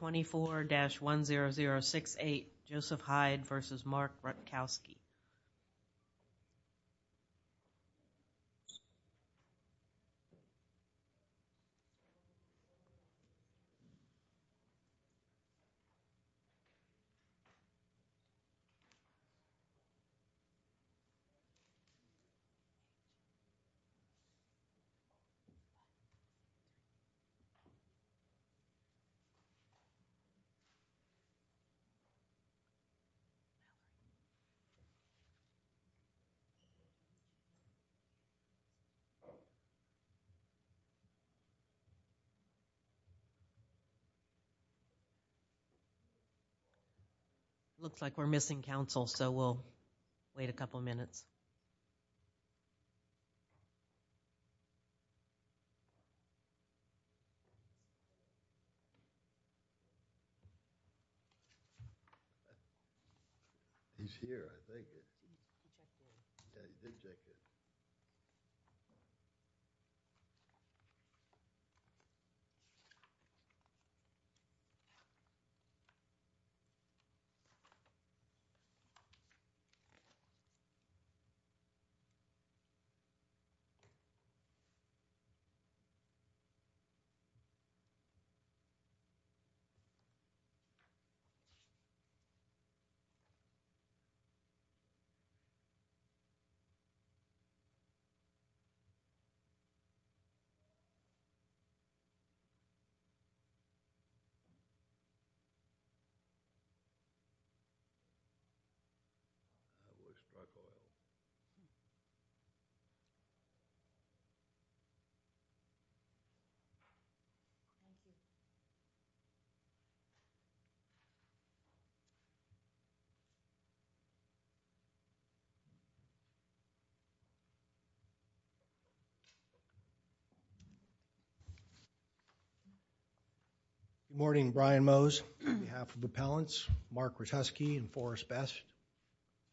24-10068 Joseph Heid v. Mark Rutkoski It looks like we're missing council, so we'll wait a couple minutes. He's here, I think. He's not here. He's not here. Good morning, Brian Mose on behalf of the appellants, Mark Rutkoski and Forrest Best.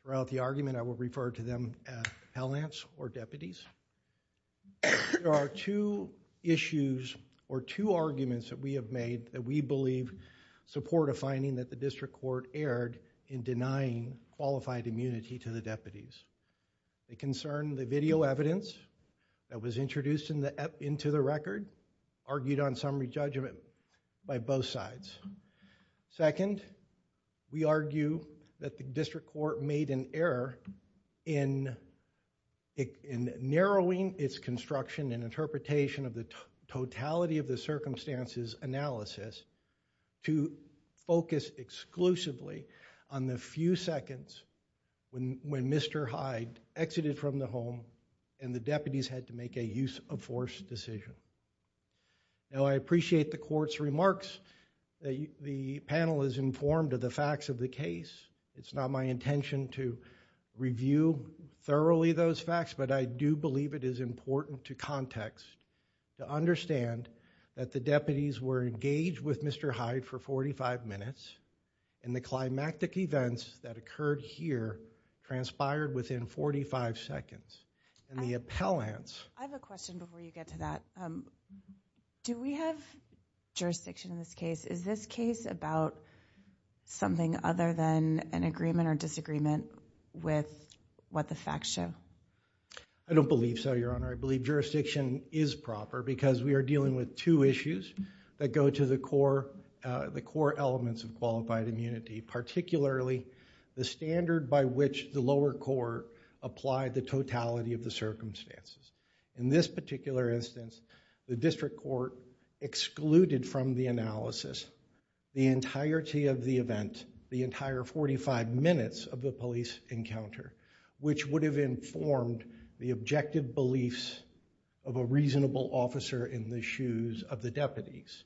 Throughout the argument, I will refer to them as appellants or deputies. There are two issues or two arguments that we have made that we believe support a finding that the district court erred in denying qualified immunity to the deputies. They concern the video evidence that was introduced into the record, argued on summary judgment by both sides. Second, we argue that the district court made an error in narrowing its construction and interpretation of the totality of the circumstances analysis to focus exclusively on the few seconds when Mr. Heid exited from the home and the deputies had to make a use of force decision. Now, I appreciate the court's remarks. The panel is informed of the facts of the case. It's not my intention to review thoroughly those facts, but I do believe it is important to context to understand that the deputies were engaged with Mr. Heid for 45 minutes and the climactic events that occurred here transpired within 45 seconds. I have a question before you get to that. Do we have jurisdiction in this case? Is this case about something other than an agreement or disagreement with what the facts show? I don't believe so, Your Honor. I believe jurisdiction is proper because we are dealing with two issues that go to the core elements of qualified immunity, particularly the standard by which the lower court applied the totality of the circumstances. In this particular instance, the district court excluded from the analysis the entirety of the event, the entire 45 minutes of the police encounter, which would have informed the objective beliefs of a reasonable officer in the shoes of the deputies.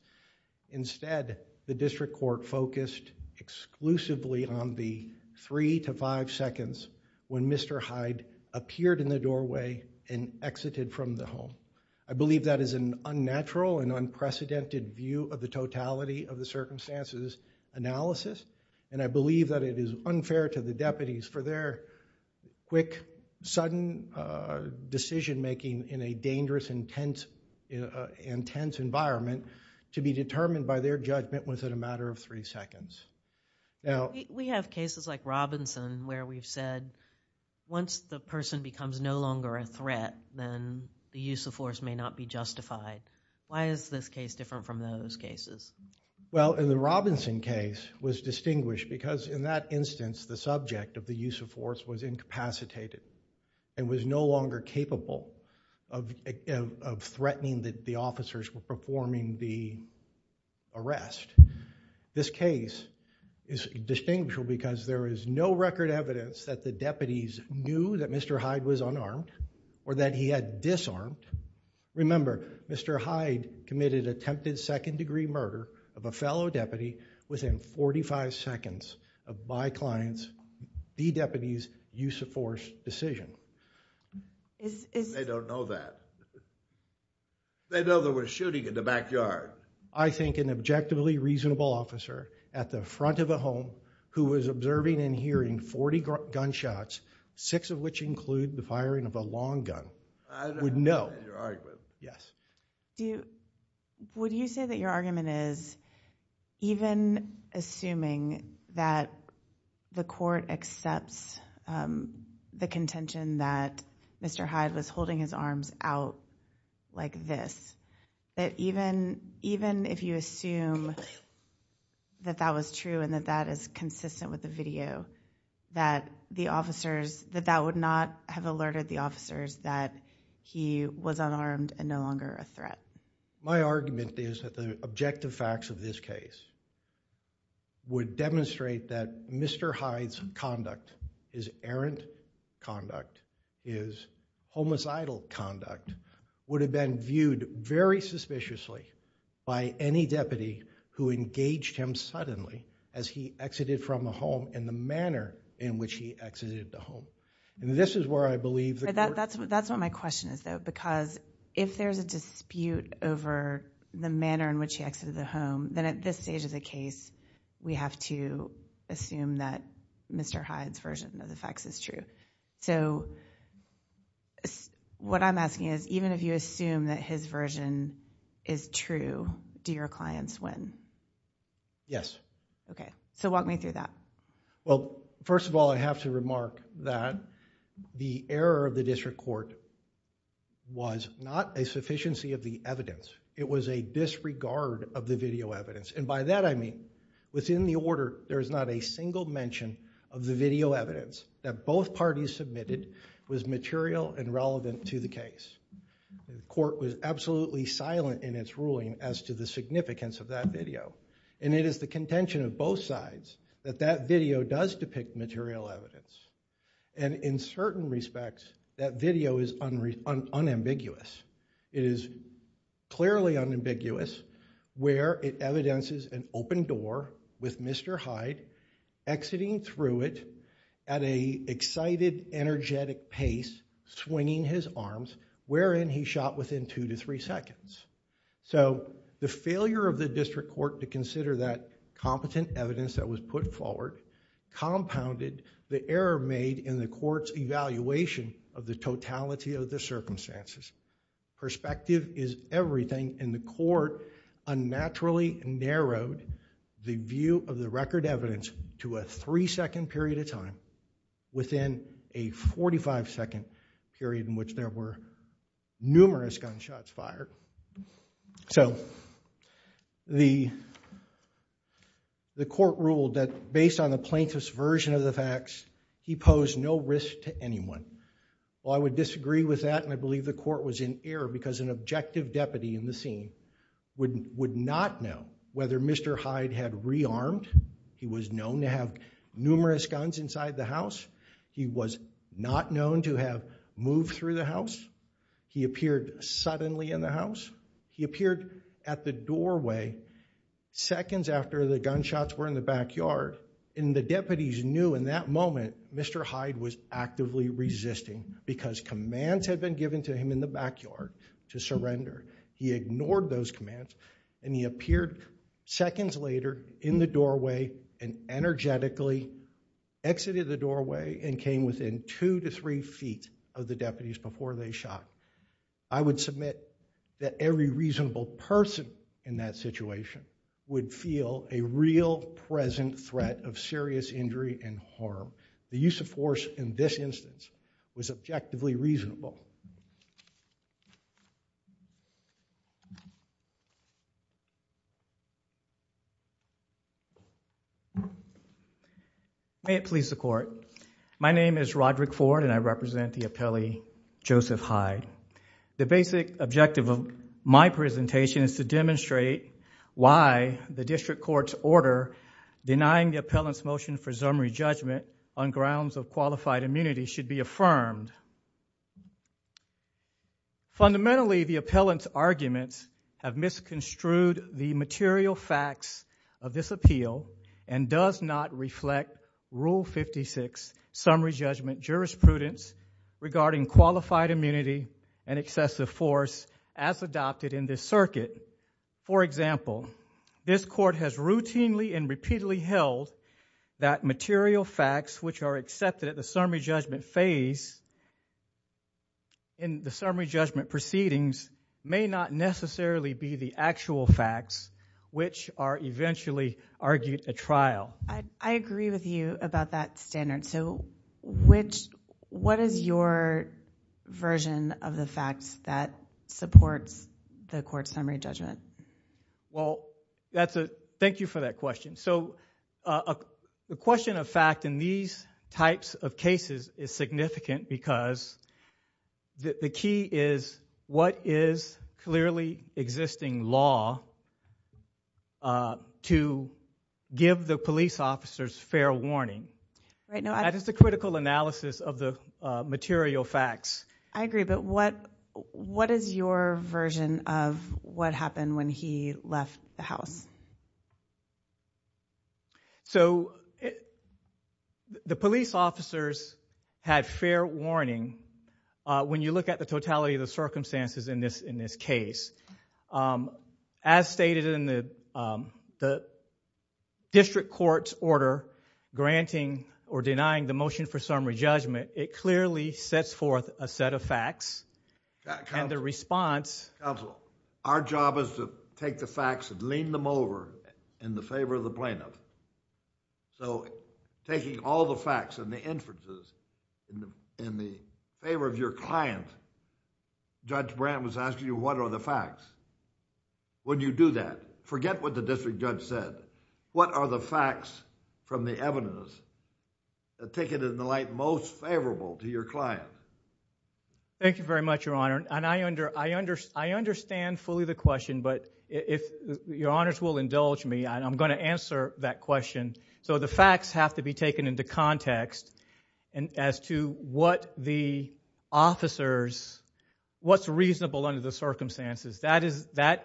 Instead, the district court focused exclusively on the three to five seconds when Mr. Heid appeared in the doorway and exited from the home. I believe that is an unnatural and unprecedented view of the totality of the circumstances analysis, and I believe that it is unfair to the deputies for their quick, sudden decision-making in a dangerous, intense environment to be determined by their judgment within a matter of three seconds. Now... We have cases like Robinson where we've said once the person becomes no longer a threat, then the use of force may not be justified. Why is this case different from those cases? Well, in the Robinson case was distinguished because in that instance, the subject of the use of force was incapacitated and was no longer capable of threatening that the officers were performing the arrest. This case is distinguished because there is no record evidence that the deputies knew that Mr. Heid was unarmed or that he had disarmed. Remember, Mr. Heid committed attempted second degree murder of a fellow deputy within 45 seconds of my client's, the deputy's, use of force decision. They don't know that. They know there was shooting in the backyard. I think an objectively reasonable officer at the front of a home who was observing and hearing 40 gunshots, six of which include the firing of a long gun, would know. Would you say that your argument is even assuming that the court accepts the contention that Mr. Heid was holding his arms out like this, that even if you assume that that was true and that that is consistent with the video, that that would not have alerted the officers that he was unarmed and no longer a threat? My argument is that the objective facts of this case would demonstrate that Mr. Heid's conduct, his errant conduct, his homicidal conduct, would have been viewed very suspiciously by any deputy who engaged him suddenly as he exited from the home in the manner in which he exited the home. This is where I believe the court... That's what my question is, though, because if there's a dispute over the manner in which he exited the home, then at this stage of the case, we have to assume that Mr. Heid's version of the facts is true. What I'm asking is, even if you assume that his version is true, do your clients win? Yes. Okay. Walk me through that. Well, first of all, I have to remark that the error of the district court was not a sufficiency of the evidence. It was a disregard of the video evidence, and by that I mean within the order, there is not a single mention of the video evidence that both parties submitted was material and relevant to the case. Court was absolutely silent in its ruling as to the significance of that video, and it is the contention of both sides that that video does depict material evidence. In certain respects, that video is unambiguous. It is clearly unambiguous where it evidences an open door with Mr. Heid exiting through it at an excited, energetic pace, swinging his arms, wherein he shot within two to three seconds. The failure of the district court to consider that competent evidence that was put forward compounded the error made in the court's evaluation of the totality of the circumstances. Perspective is everything, and the court unnaturally narrowed the view of the record evidence to a three-second period of time within a 45-second period in which there were numerous gunshots fired. So the court ruled that based on the plaintiff's version of the facts, he posed no risk to Well, I would disagree with that, and I believe the court was in error because an objective deputy in the scene would not know whether Mr. Heid had rearmed. He was known to have numerous guns inside the house. He was not known to have moved through the house. He appeared suddenly in the house. He appeared at the doorway seconds after the gunshots were in the backyard, and the deputies knew in that moment Mr. Heid was actively resisting because commands had been given to him in the backyard to surrender. He ignored those commands, and he appeared seconds later in the doorway and energetically exited the doorway and came within two to three feet of the deputies before they shot. I would submit that every reasonable person in that situation would feel a real present threat of serious injury and harm. The use of force in this instance was objectively reasonable. May it please the court. My name is Roderick Ford, and I represent the appellee Joseph Heid. The basic objective of my presentation is to demonstrate why the district court's order denying the appellant's motion for summary judgment on grounds of qualified immunity should be affirmed. Fundamentally, the appellant's arguments have misconstrued the material facts of this appeal and does not reflect Rule 56 summary judgment jurisprudence regarding qualified immunity and excessive force as adopted in this circuit. For example, this court has routinely and repeatedly held that material facts which are accepted at the summary judgment phase in the summary judgment proceedings may not necessarily be the actual facts which are eventually argued at trial. I agree with you about that standard. What is your version of the facts that supports the court's summary judgment? Thank you for that question. The question of fact in these types of cases is significant because the key is what is clearly existing law to give the police officers fair warning. That is the critical analysis of the material facts. I agree, but what is your version of what happened when he left the house? So the police officers had fair warning when you look at the totality of the circumstances in this case. As stated in the district court's order granting or denying the motion for summary judgment, it clearly sets forth a set of facts and the response... Counsel, our job is to take the facts and lean them over in the favor of the plaintiff, so taking all the facts and the inferences in the favor of your client, Judge Brandt was asking you what are the facts. When you do that, forget what the district judge said. What are the facts from the evidence that take it in the light most favorable to your client? Thank you very much, Your Honor. I understand fully the question, but if Your Honors will indulge me, I'm going to answer that question. So the facts have to be taken into context as to what the officers... what's reasonable under the circumstances. That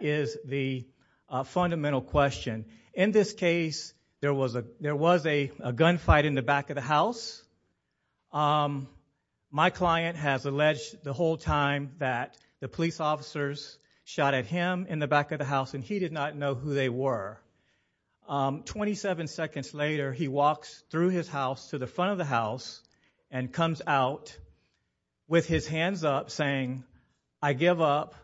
is the fundamental question. In this case, there was a gunfight in the back of the house. My client has alleged the whole time that the police officers shot at him in the back of the house, and he did not know who they were. Twenty-seven seconds later, he walks through his house to the front of the house and comes out with his hands up saying, I give up,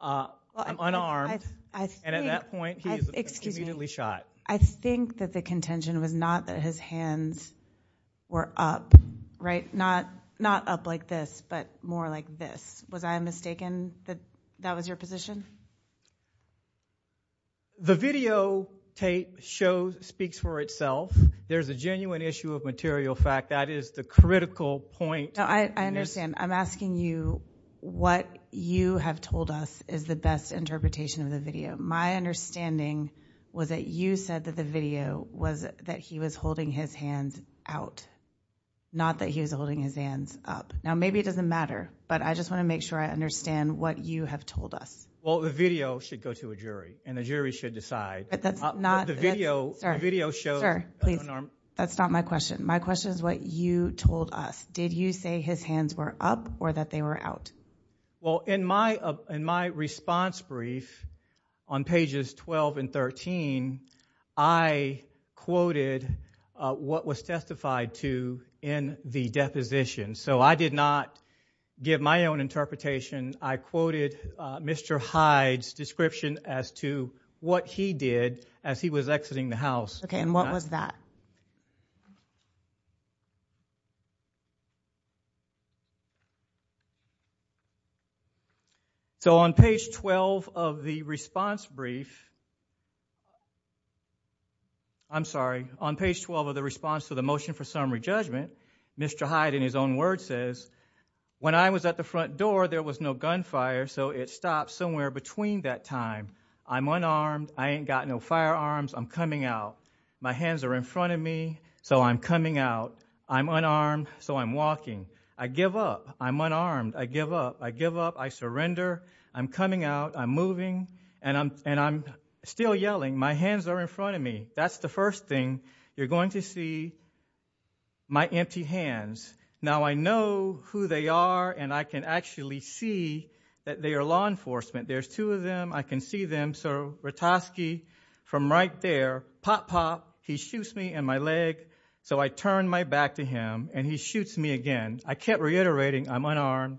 I'm unarmed, and at that point, he is immediately shot. I think that the contention was not that his hands were up, right? Not up like this, but more like this. Was I mistaken that that was your position? The videotape speaks for itself. There's a genuine issue of material fact. That is the critical point. I understand. I'm asking you what you have told us is the best interpretation of the video. My understanding was that you said that the video was that he was holding his hands out, not that he was holding his hands up. Now, maybe it doesn't matter, but I just want to make sure I understand what you have told us. Well, the video should go to a jury, and the jury should decide. But that's not... The video shows... Sir, please, that's not my question. My question is what you told us. Did you say his hands were up or that they were out? Well, in my response brief on pages 12 and 13, I quoted what was testified to in the deposition, so I did not give my own interpretation. I quoted Mr. Hyde's description as to what he did as he was exiting the house. Okay, and what was that? So, on page 12 of the response brief, I'm sorry, on page 12 of the response to the motion for summary judgment, Mr. Hyde, in his own words, says, when I was at the front door, there was no gunfire, so it stopped somewhere between that time. I'm unarmed, I ain't got no firearms, I'm coming out. My hands are in front of me, so I'm coming out. I'm unarmed, so I'm walking. I give up, I'm unarmed, I give up, I give up, I surrender. I'm coming out, I'm moving, and I'm still yelling, my hands are in front of me. That's the first thing you're going to see, my empty hands. Now, I know who they are, and I can actually see that they are law enforcement. There's two of them, I can see them, so Ratosky, from right there, pop, pop, he shoots me in my leg, so I turn my back to him, and he shoots me again. I kept reiterating, I'm unarmed,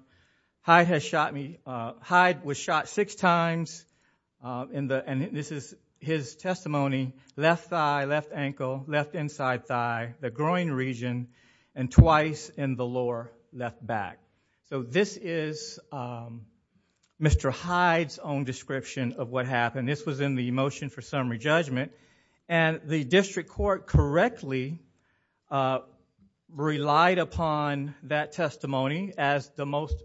Hyde has shot me, Hyde was shot six times, and this is his testimony, left thigh, left ankle, left inside thigh, the groin region, and twice in the lower left back. This is Mr. Hyde's own description of what happened. This was in the motion for summary judgment, and the district court correctly relied upon that testimony as the most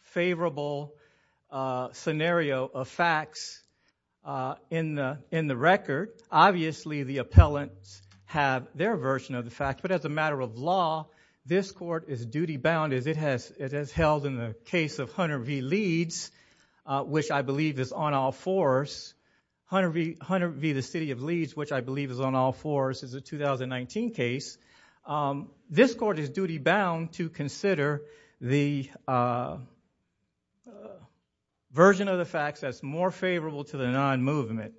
favorable scenario of facts in the record. Obviously, the appellants have their version of the fact, but as a matter of law, this court is duty-bound, as it has held in the case of Hunter v. Leeds, which I believe is on all fours, Hunter v. the City of Leeds, which I believe is on all fours, is a 2019 case. This court is duty-bound to consider the version of the facts as more favorable to the non-movement.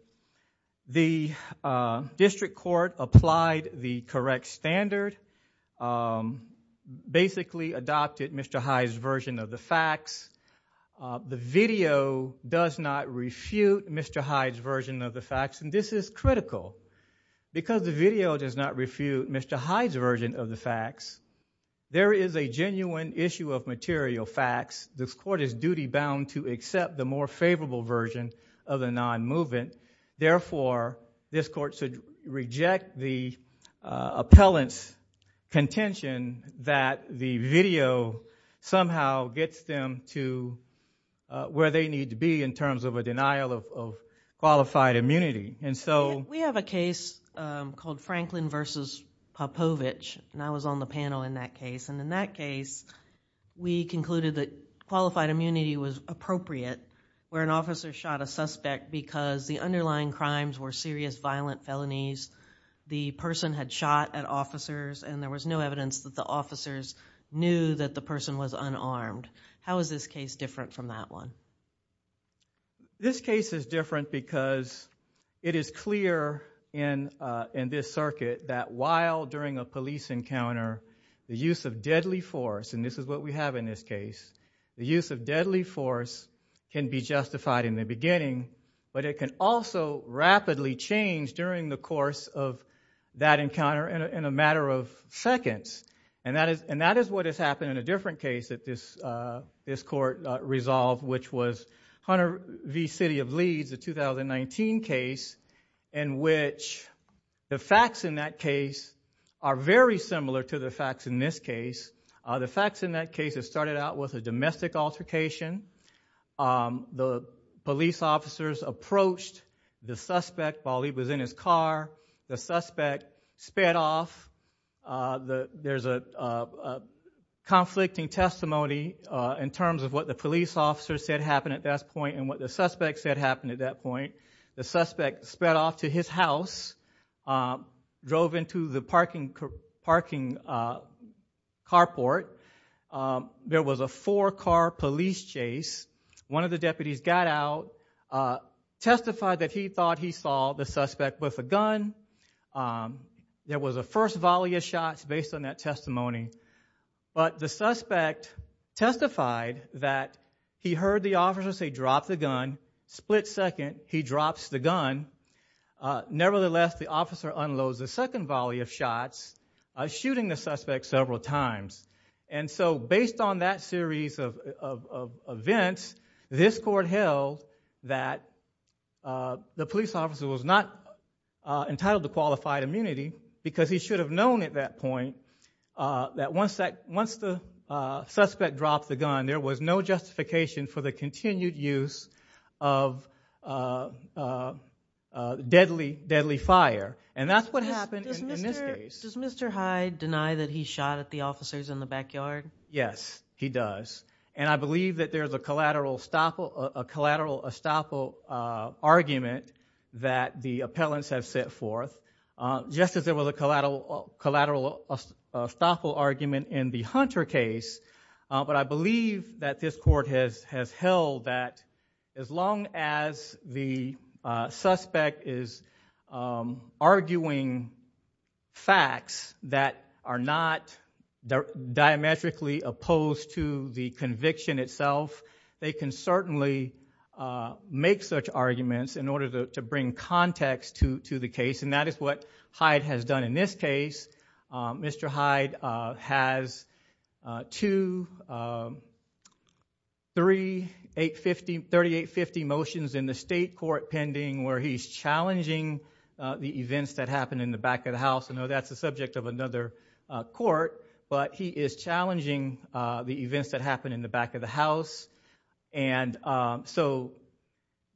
The district court applied the correct standard, basically adopted Mr. Hyde's version of the The video does not refute Mr. Hyde's version of the facts, and this is critical. Because the video does not refute Mr. Hyde's version of the facts, there is a genuine issue of material facts. This court is duty-bound to accept the more favorable version of the non-movement. Therefore, this court should reject the appellant's contention that the video somehow gets them to where they need to be in terms of a denial of qualified immunity. We have a case called Franklin v. Popovich, and I was on the panel in that case. In that case, we concluded that qualified immunity was appropriate where an officer shot a suspect because the underlying crimes were serious violent felonies. The person had shot at officers, and there was no evidence that the officers knew that the person was unarmed. How is this case different from that one? This case is different because it is clear in this circuit that while during a police encounter, the use of deadly force, and this is what we have in this case, the use of deadly force can be justified in the beginning, but it can also rapidly change during the course of that encounter in a matter of seconds, and that is what has happened in a different case that this court resolved, which was Hunter v. City of Leeds, a 2019 case in which the facts in that case are very similar to the facts in this case. The facts in that case, it started out with a domestic altercation. The police officers approached the suspect while he was in his car. The suspect sped off. There's a conflicting testimony in terms of what the police officers said happened at that point and what the suspect said happened at that point. The suspect sped off to his house, drove into the parking carport. There was a four-car police chase. One of the deputies got out, testified that he thought he saw the suspect with a gun. There was a first volley of shots based on that testimony, but the suspect testified that he heard the officer say, drop the gun. Split second, he drops the gun. Nevertheless, the officer unloads the second volley of shots, shooting the suspect several times, and so based on that series of events, this court held that the police officer was not entitled to qualified immunity because he should have known at that point that once the suspect dropped the gun, there was no justification for the continued use of deadly fire. That's what happened in this case. Does Mr. Hyde deny that he shot at the officers in the backyard? Yes, he does. I believe that there's a collateral estoppel argument that the appellants have set forth, just as there was a collateral estoppel argument in the Hunter case, but I believe that this court has held that as long as the suspect is arguing facts that are not diametrically opposed to the conviction itself, they can certainly make such arguments in order to bring context to the case, and that is what Hyde has done in this case. Mr. Hyde has two, three, 3850 motions in the state court pending where he's challenging the events that happened in the back of the house. I know that's the subject of another court, but he is challenging the events that happened in the back of the house.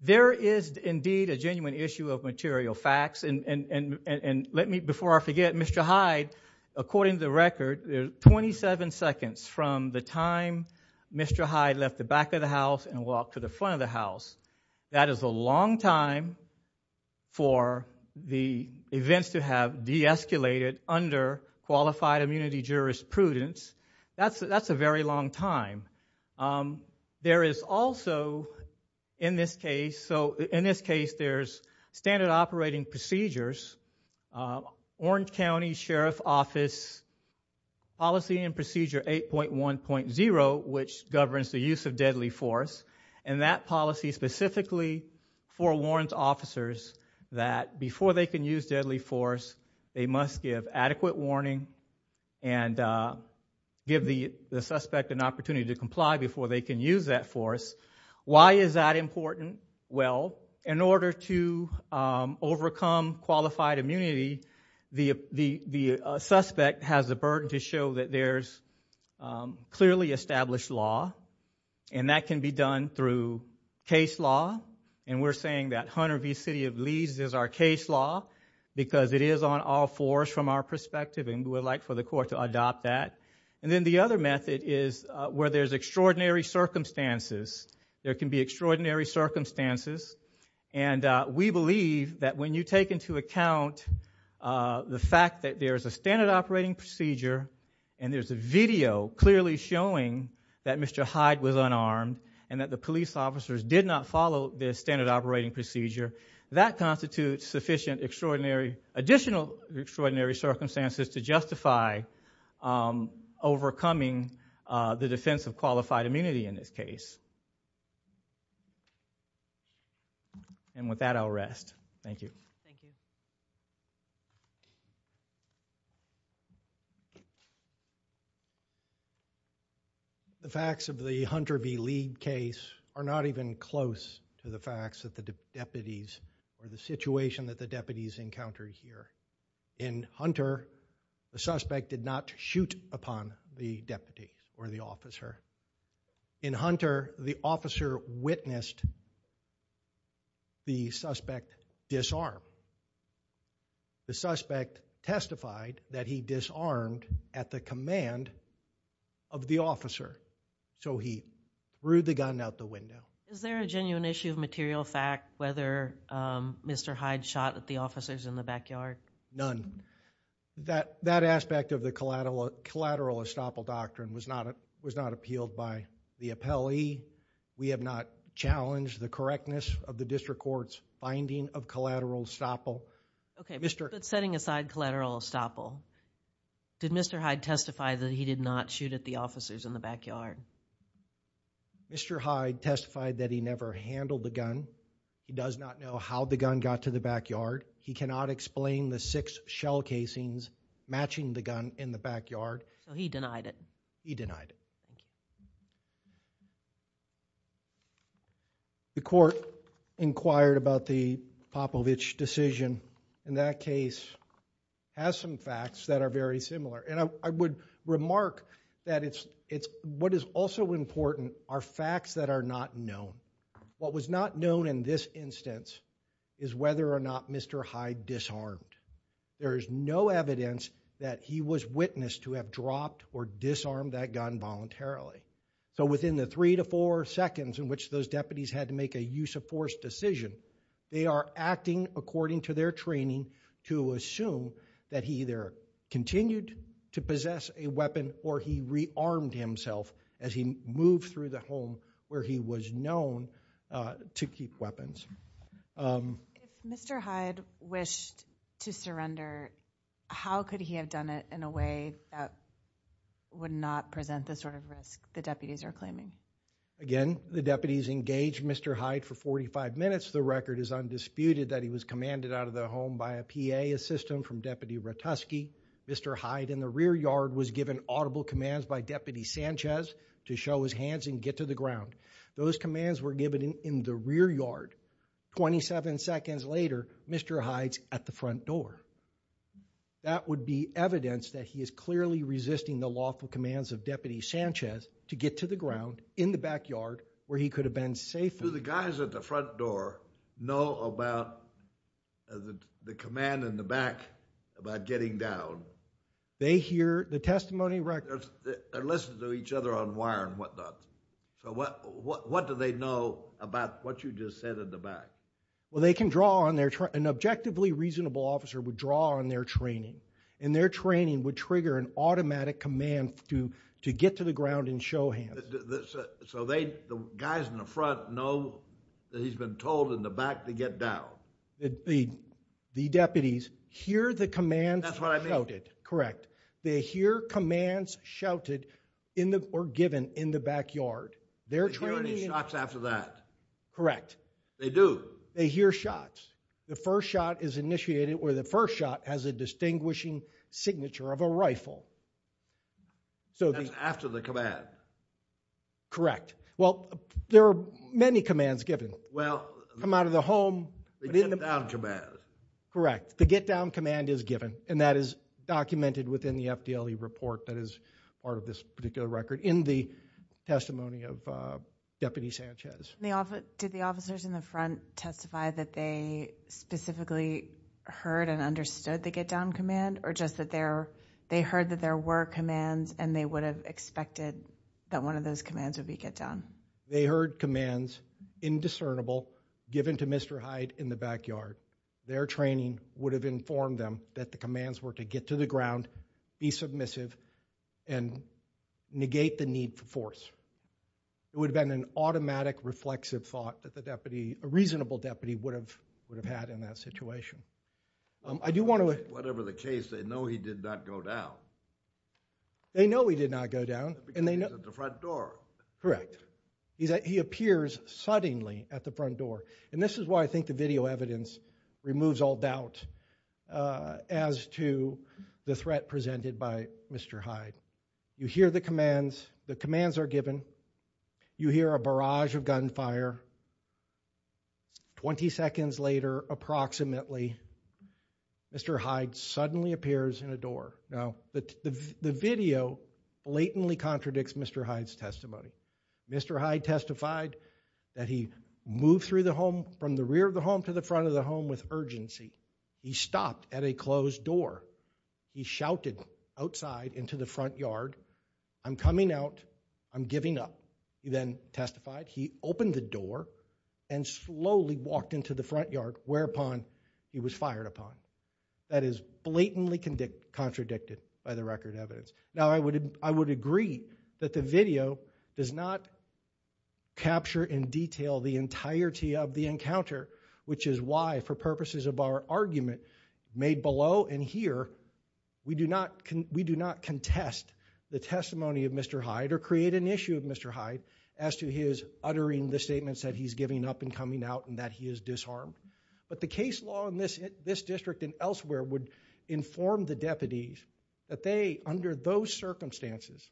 There is indeed a genuine issue of material facts. Before I forget, Mr. Hyde, according to the record, 27 seconds from the time Mr. Hyde left the back of the house and walked to the front of the house, that is a long time for the events to have de-escalated under qualified immunity jurisprudence. That's a very long time. There is also, in this case, there's standard operating procedures, Orange County Sheriff Office policy and procedure 8.1.0, which governs the use of deadly force, and that policy specifically forewarns officers that before they can use deadly force, they must give adequate warning and give the suspect an opportunity to comply before they can use that force. Why is that important? Well, in order to overcome qualified immunity, the suspect has a burden to show that there's clearly established law, and that can be done through case law, and we're saying that Hunter v. City of Leeds is our case law because it is on all fours from our perspective, and we would like for the court to adopt that. And then the other method is where there's extraordinary circumstances. There can be extraordinary circumstances, and we believe that when you take into account the fact that there's a standard operating procedure, and there's a video clearly showing that Mr. Hyde was unarmed, and that the police officers did not follow the standard operating procedure, that constitutes sufficient extraordinary, additional extraordinary circumstances to justify overcoming the defense of qualified immunity in this case. And with that, I'll rest. Thank you. Thank you. The facts of the Hunter v. Leeds case are not even close to the facts that the deputies or the situation that the deputies encountered here. In Hunter, the suspect did not shoot upon the deputy or the officer. In Hunter, the officer witnessed the suspect disarm. The suspect testified that he disarmed at the command of the officer, so he threw the gun out the window. Is there a genuine issue of material fact whether Mr. Hyde shot at the officers in the backyard? None. That aspect of the collateral estoppel doctrine was not appealed by the appellee. We have not challenged the correctness of the district court's finding of collateral estoppel. Okay, but setting aside collateral estoppel, did Mr. Hyde testify that he did not shoot at the officers in the backyard? Mr. Hyde testified that he never handled the gun. He does not know how the gun got to the backyard. He cannot explain the six shell casings matching the gun in the backyard. He denied it. He denied it. The court inquired about the Popovich decision. In that case, it has some facts that are very similar. I would remark that what is also important are facts that are not known. What was not known in this instance is whether or not Mr. Hyde disarmed. There is no evidence that he was witnessed to have dropped or disarmed that gun voluntarily. So within the three to four seconds in which those deputies had to make a use of force decision, they are acting according to their training to assume that he either continued to possess a weapon or he rearmed himself as he moved through the home where he was known to keep weapons. If Mr. Hyde wished to surrender, how could he have done it in a way that would not present the sort of risk the deputies are claiming? Again, the deputies engaged Mr. Hyde for 45 minutes. The record is undisputed that he was commanded out of the home by a PA assistant from Deputy Ratusky. Mr. Hyde in the rear yard was given audible commands by Deputy Sanchez to show his hands and get to the ground. Those commands were given in the rear yard. Twenty-seven seconds later, Mr. Hyde's at the front door. That would be evidence that he is clearly resisting the lawful commands of Deputy Sanchez to get to the ground in the backyard where he could have been safe. Do the guys at the front door know about the command in the back about getting down? They hear the testimony records. They listen to each other on wire and whatnot. What do they know about what you just said in the back? They can draw on their... An objectively reasonable officer would draw on their training. Their training would trigger an automatic command to get to the ground and show hands. So the guys in the front know that he's been told in the back to get down? The deputies hear the commands shouted. Correct. They hear commands shouted or given in the backyard. They're training... They hear any shots after that? Correct. They do? They hear shots. The first shot is initiated where the first shot has a distinguishing signature of a rifle. That's after the command? Correct. Well, there are many commands given. Well... Come out of the home... The get down command. Correct. The get down command is given and that is documented within the FDLE report that is part of this particular record in the testimony of Deputy Sanchez. Did the officers in the front testify that they specifically heard and understood the there were commands and they would have expected that one of those commands would be get down? They heard commands, indiscernible, given to Mr. Hyde in the backyard. Their training would have informed them that the commands were to get to the ground, be submissive, and negate the need for force. It would have been an automatic, reflexive thought that a reasonable deputy would have had in that situation. I do want to... Whatever the case, they know he did not go down. They know he did not go down. Because he's at the front door. He appears suddenly at the front door. And this is why I think the video evidence removes all doubt as to the threat presented by Mr. Hyde. You hear the commands. The commands are given. You hear a barrage of gunfire. Twenty seconds later, approximately, Mr. Hyde suddenly appears in a door. Now, the video blatantly contradicts Mr. Hyde's testimony. Mr. Hyde testified that he moved through the home, from the rear of the home to the front of the home with urgency. He stopped at a closed door. He shouted outside into the front yard, I'm coming out, I'm giving up. He then testified he opened the door and slowly walked into the front yard, whereupon he was fired upon. That is blatantly contradicted by the record evidence. Now, I would agree that the video does not capture in detail the entirety of the encounter, which is why, for purposes of our argument made below and here, we do not contest the testimony of Mr. Hyde or create an issue of Mr. Hyde as to his uttering the statements that he's giving up and coming out and that he is disarmed. But the case law in this district and elsewhere would inform the deputies that they, under those circumstances,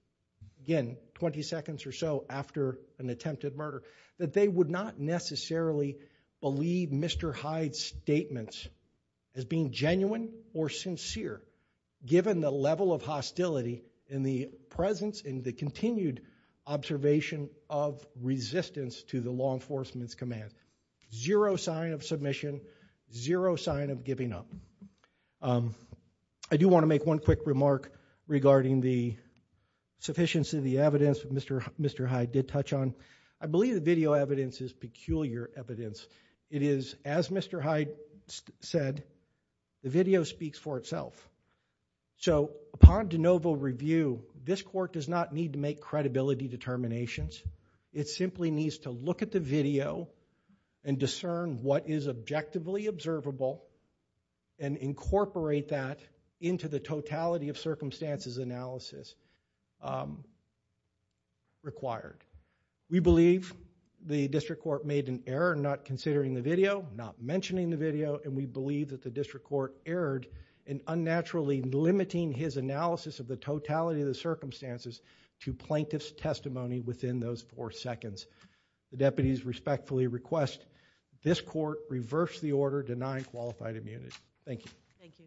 again, 20 seconds or so after an attempted murder, that they would not necessarily believe Mr. Hyde's statements as being genuine or sincere, given the level of hostility in the presence, in the continued observation of resistance to the law enforcement's command. Zero sign of submission, zero sign of giving up. I do want to make one quick remark regarding the sufficiency of the evidence Mr. Hyde did touch on. I believe the video evidence is peculiar evidence. It is, as Mr. Hyde said, the video speaks for itself. Upon de novo review, this court does not need to make credibility determinations. It simply needs to look at the video and discern what is objectively observable and incorporate that into the totality of circumstances analysis required. We believe the district court made an error not considering the video, not mentioning the video, and we believe that the district court erred in unnaturally limiting his analysis of the totality of the circumstances to plaintiff's testimony within those four seconds. The deputies respectfully request this court reverse the order denying qualified immunity. Thank you. Thank you. Thank you. Thank you. Thank you. Thank you.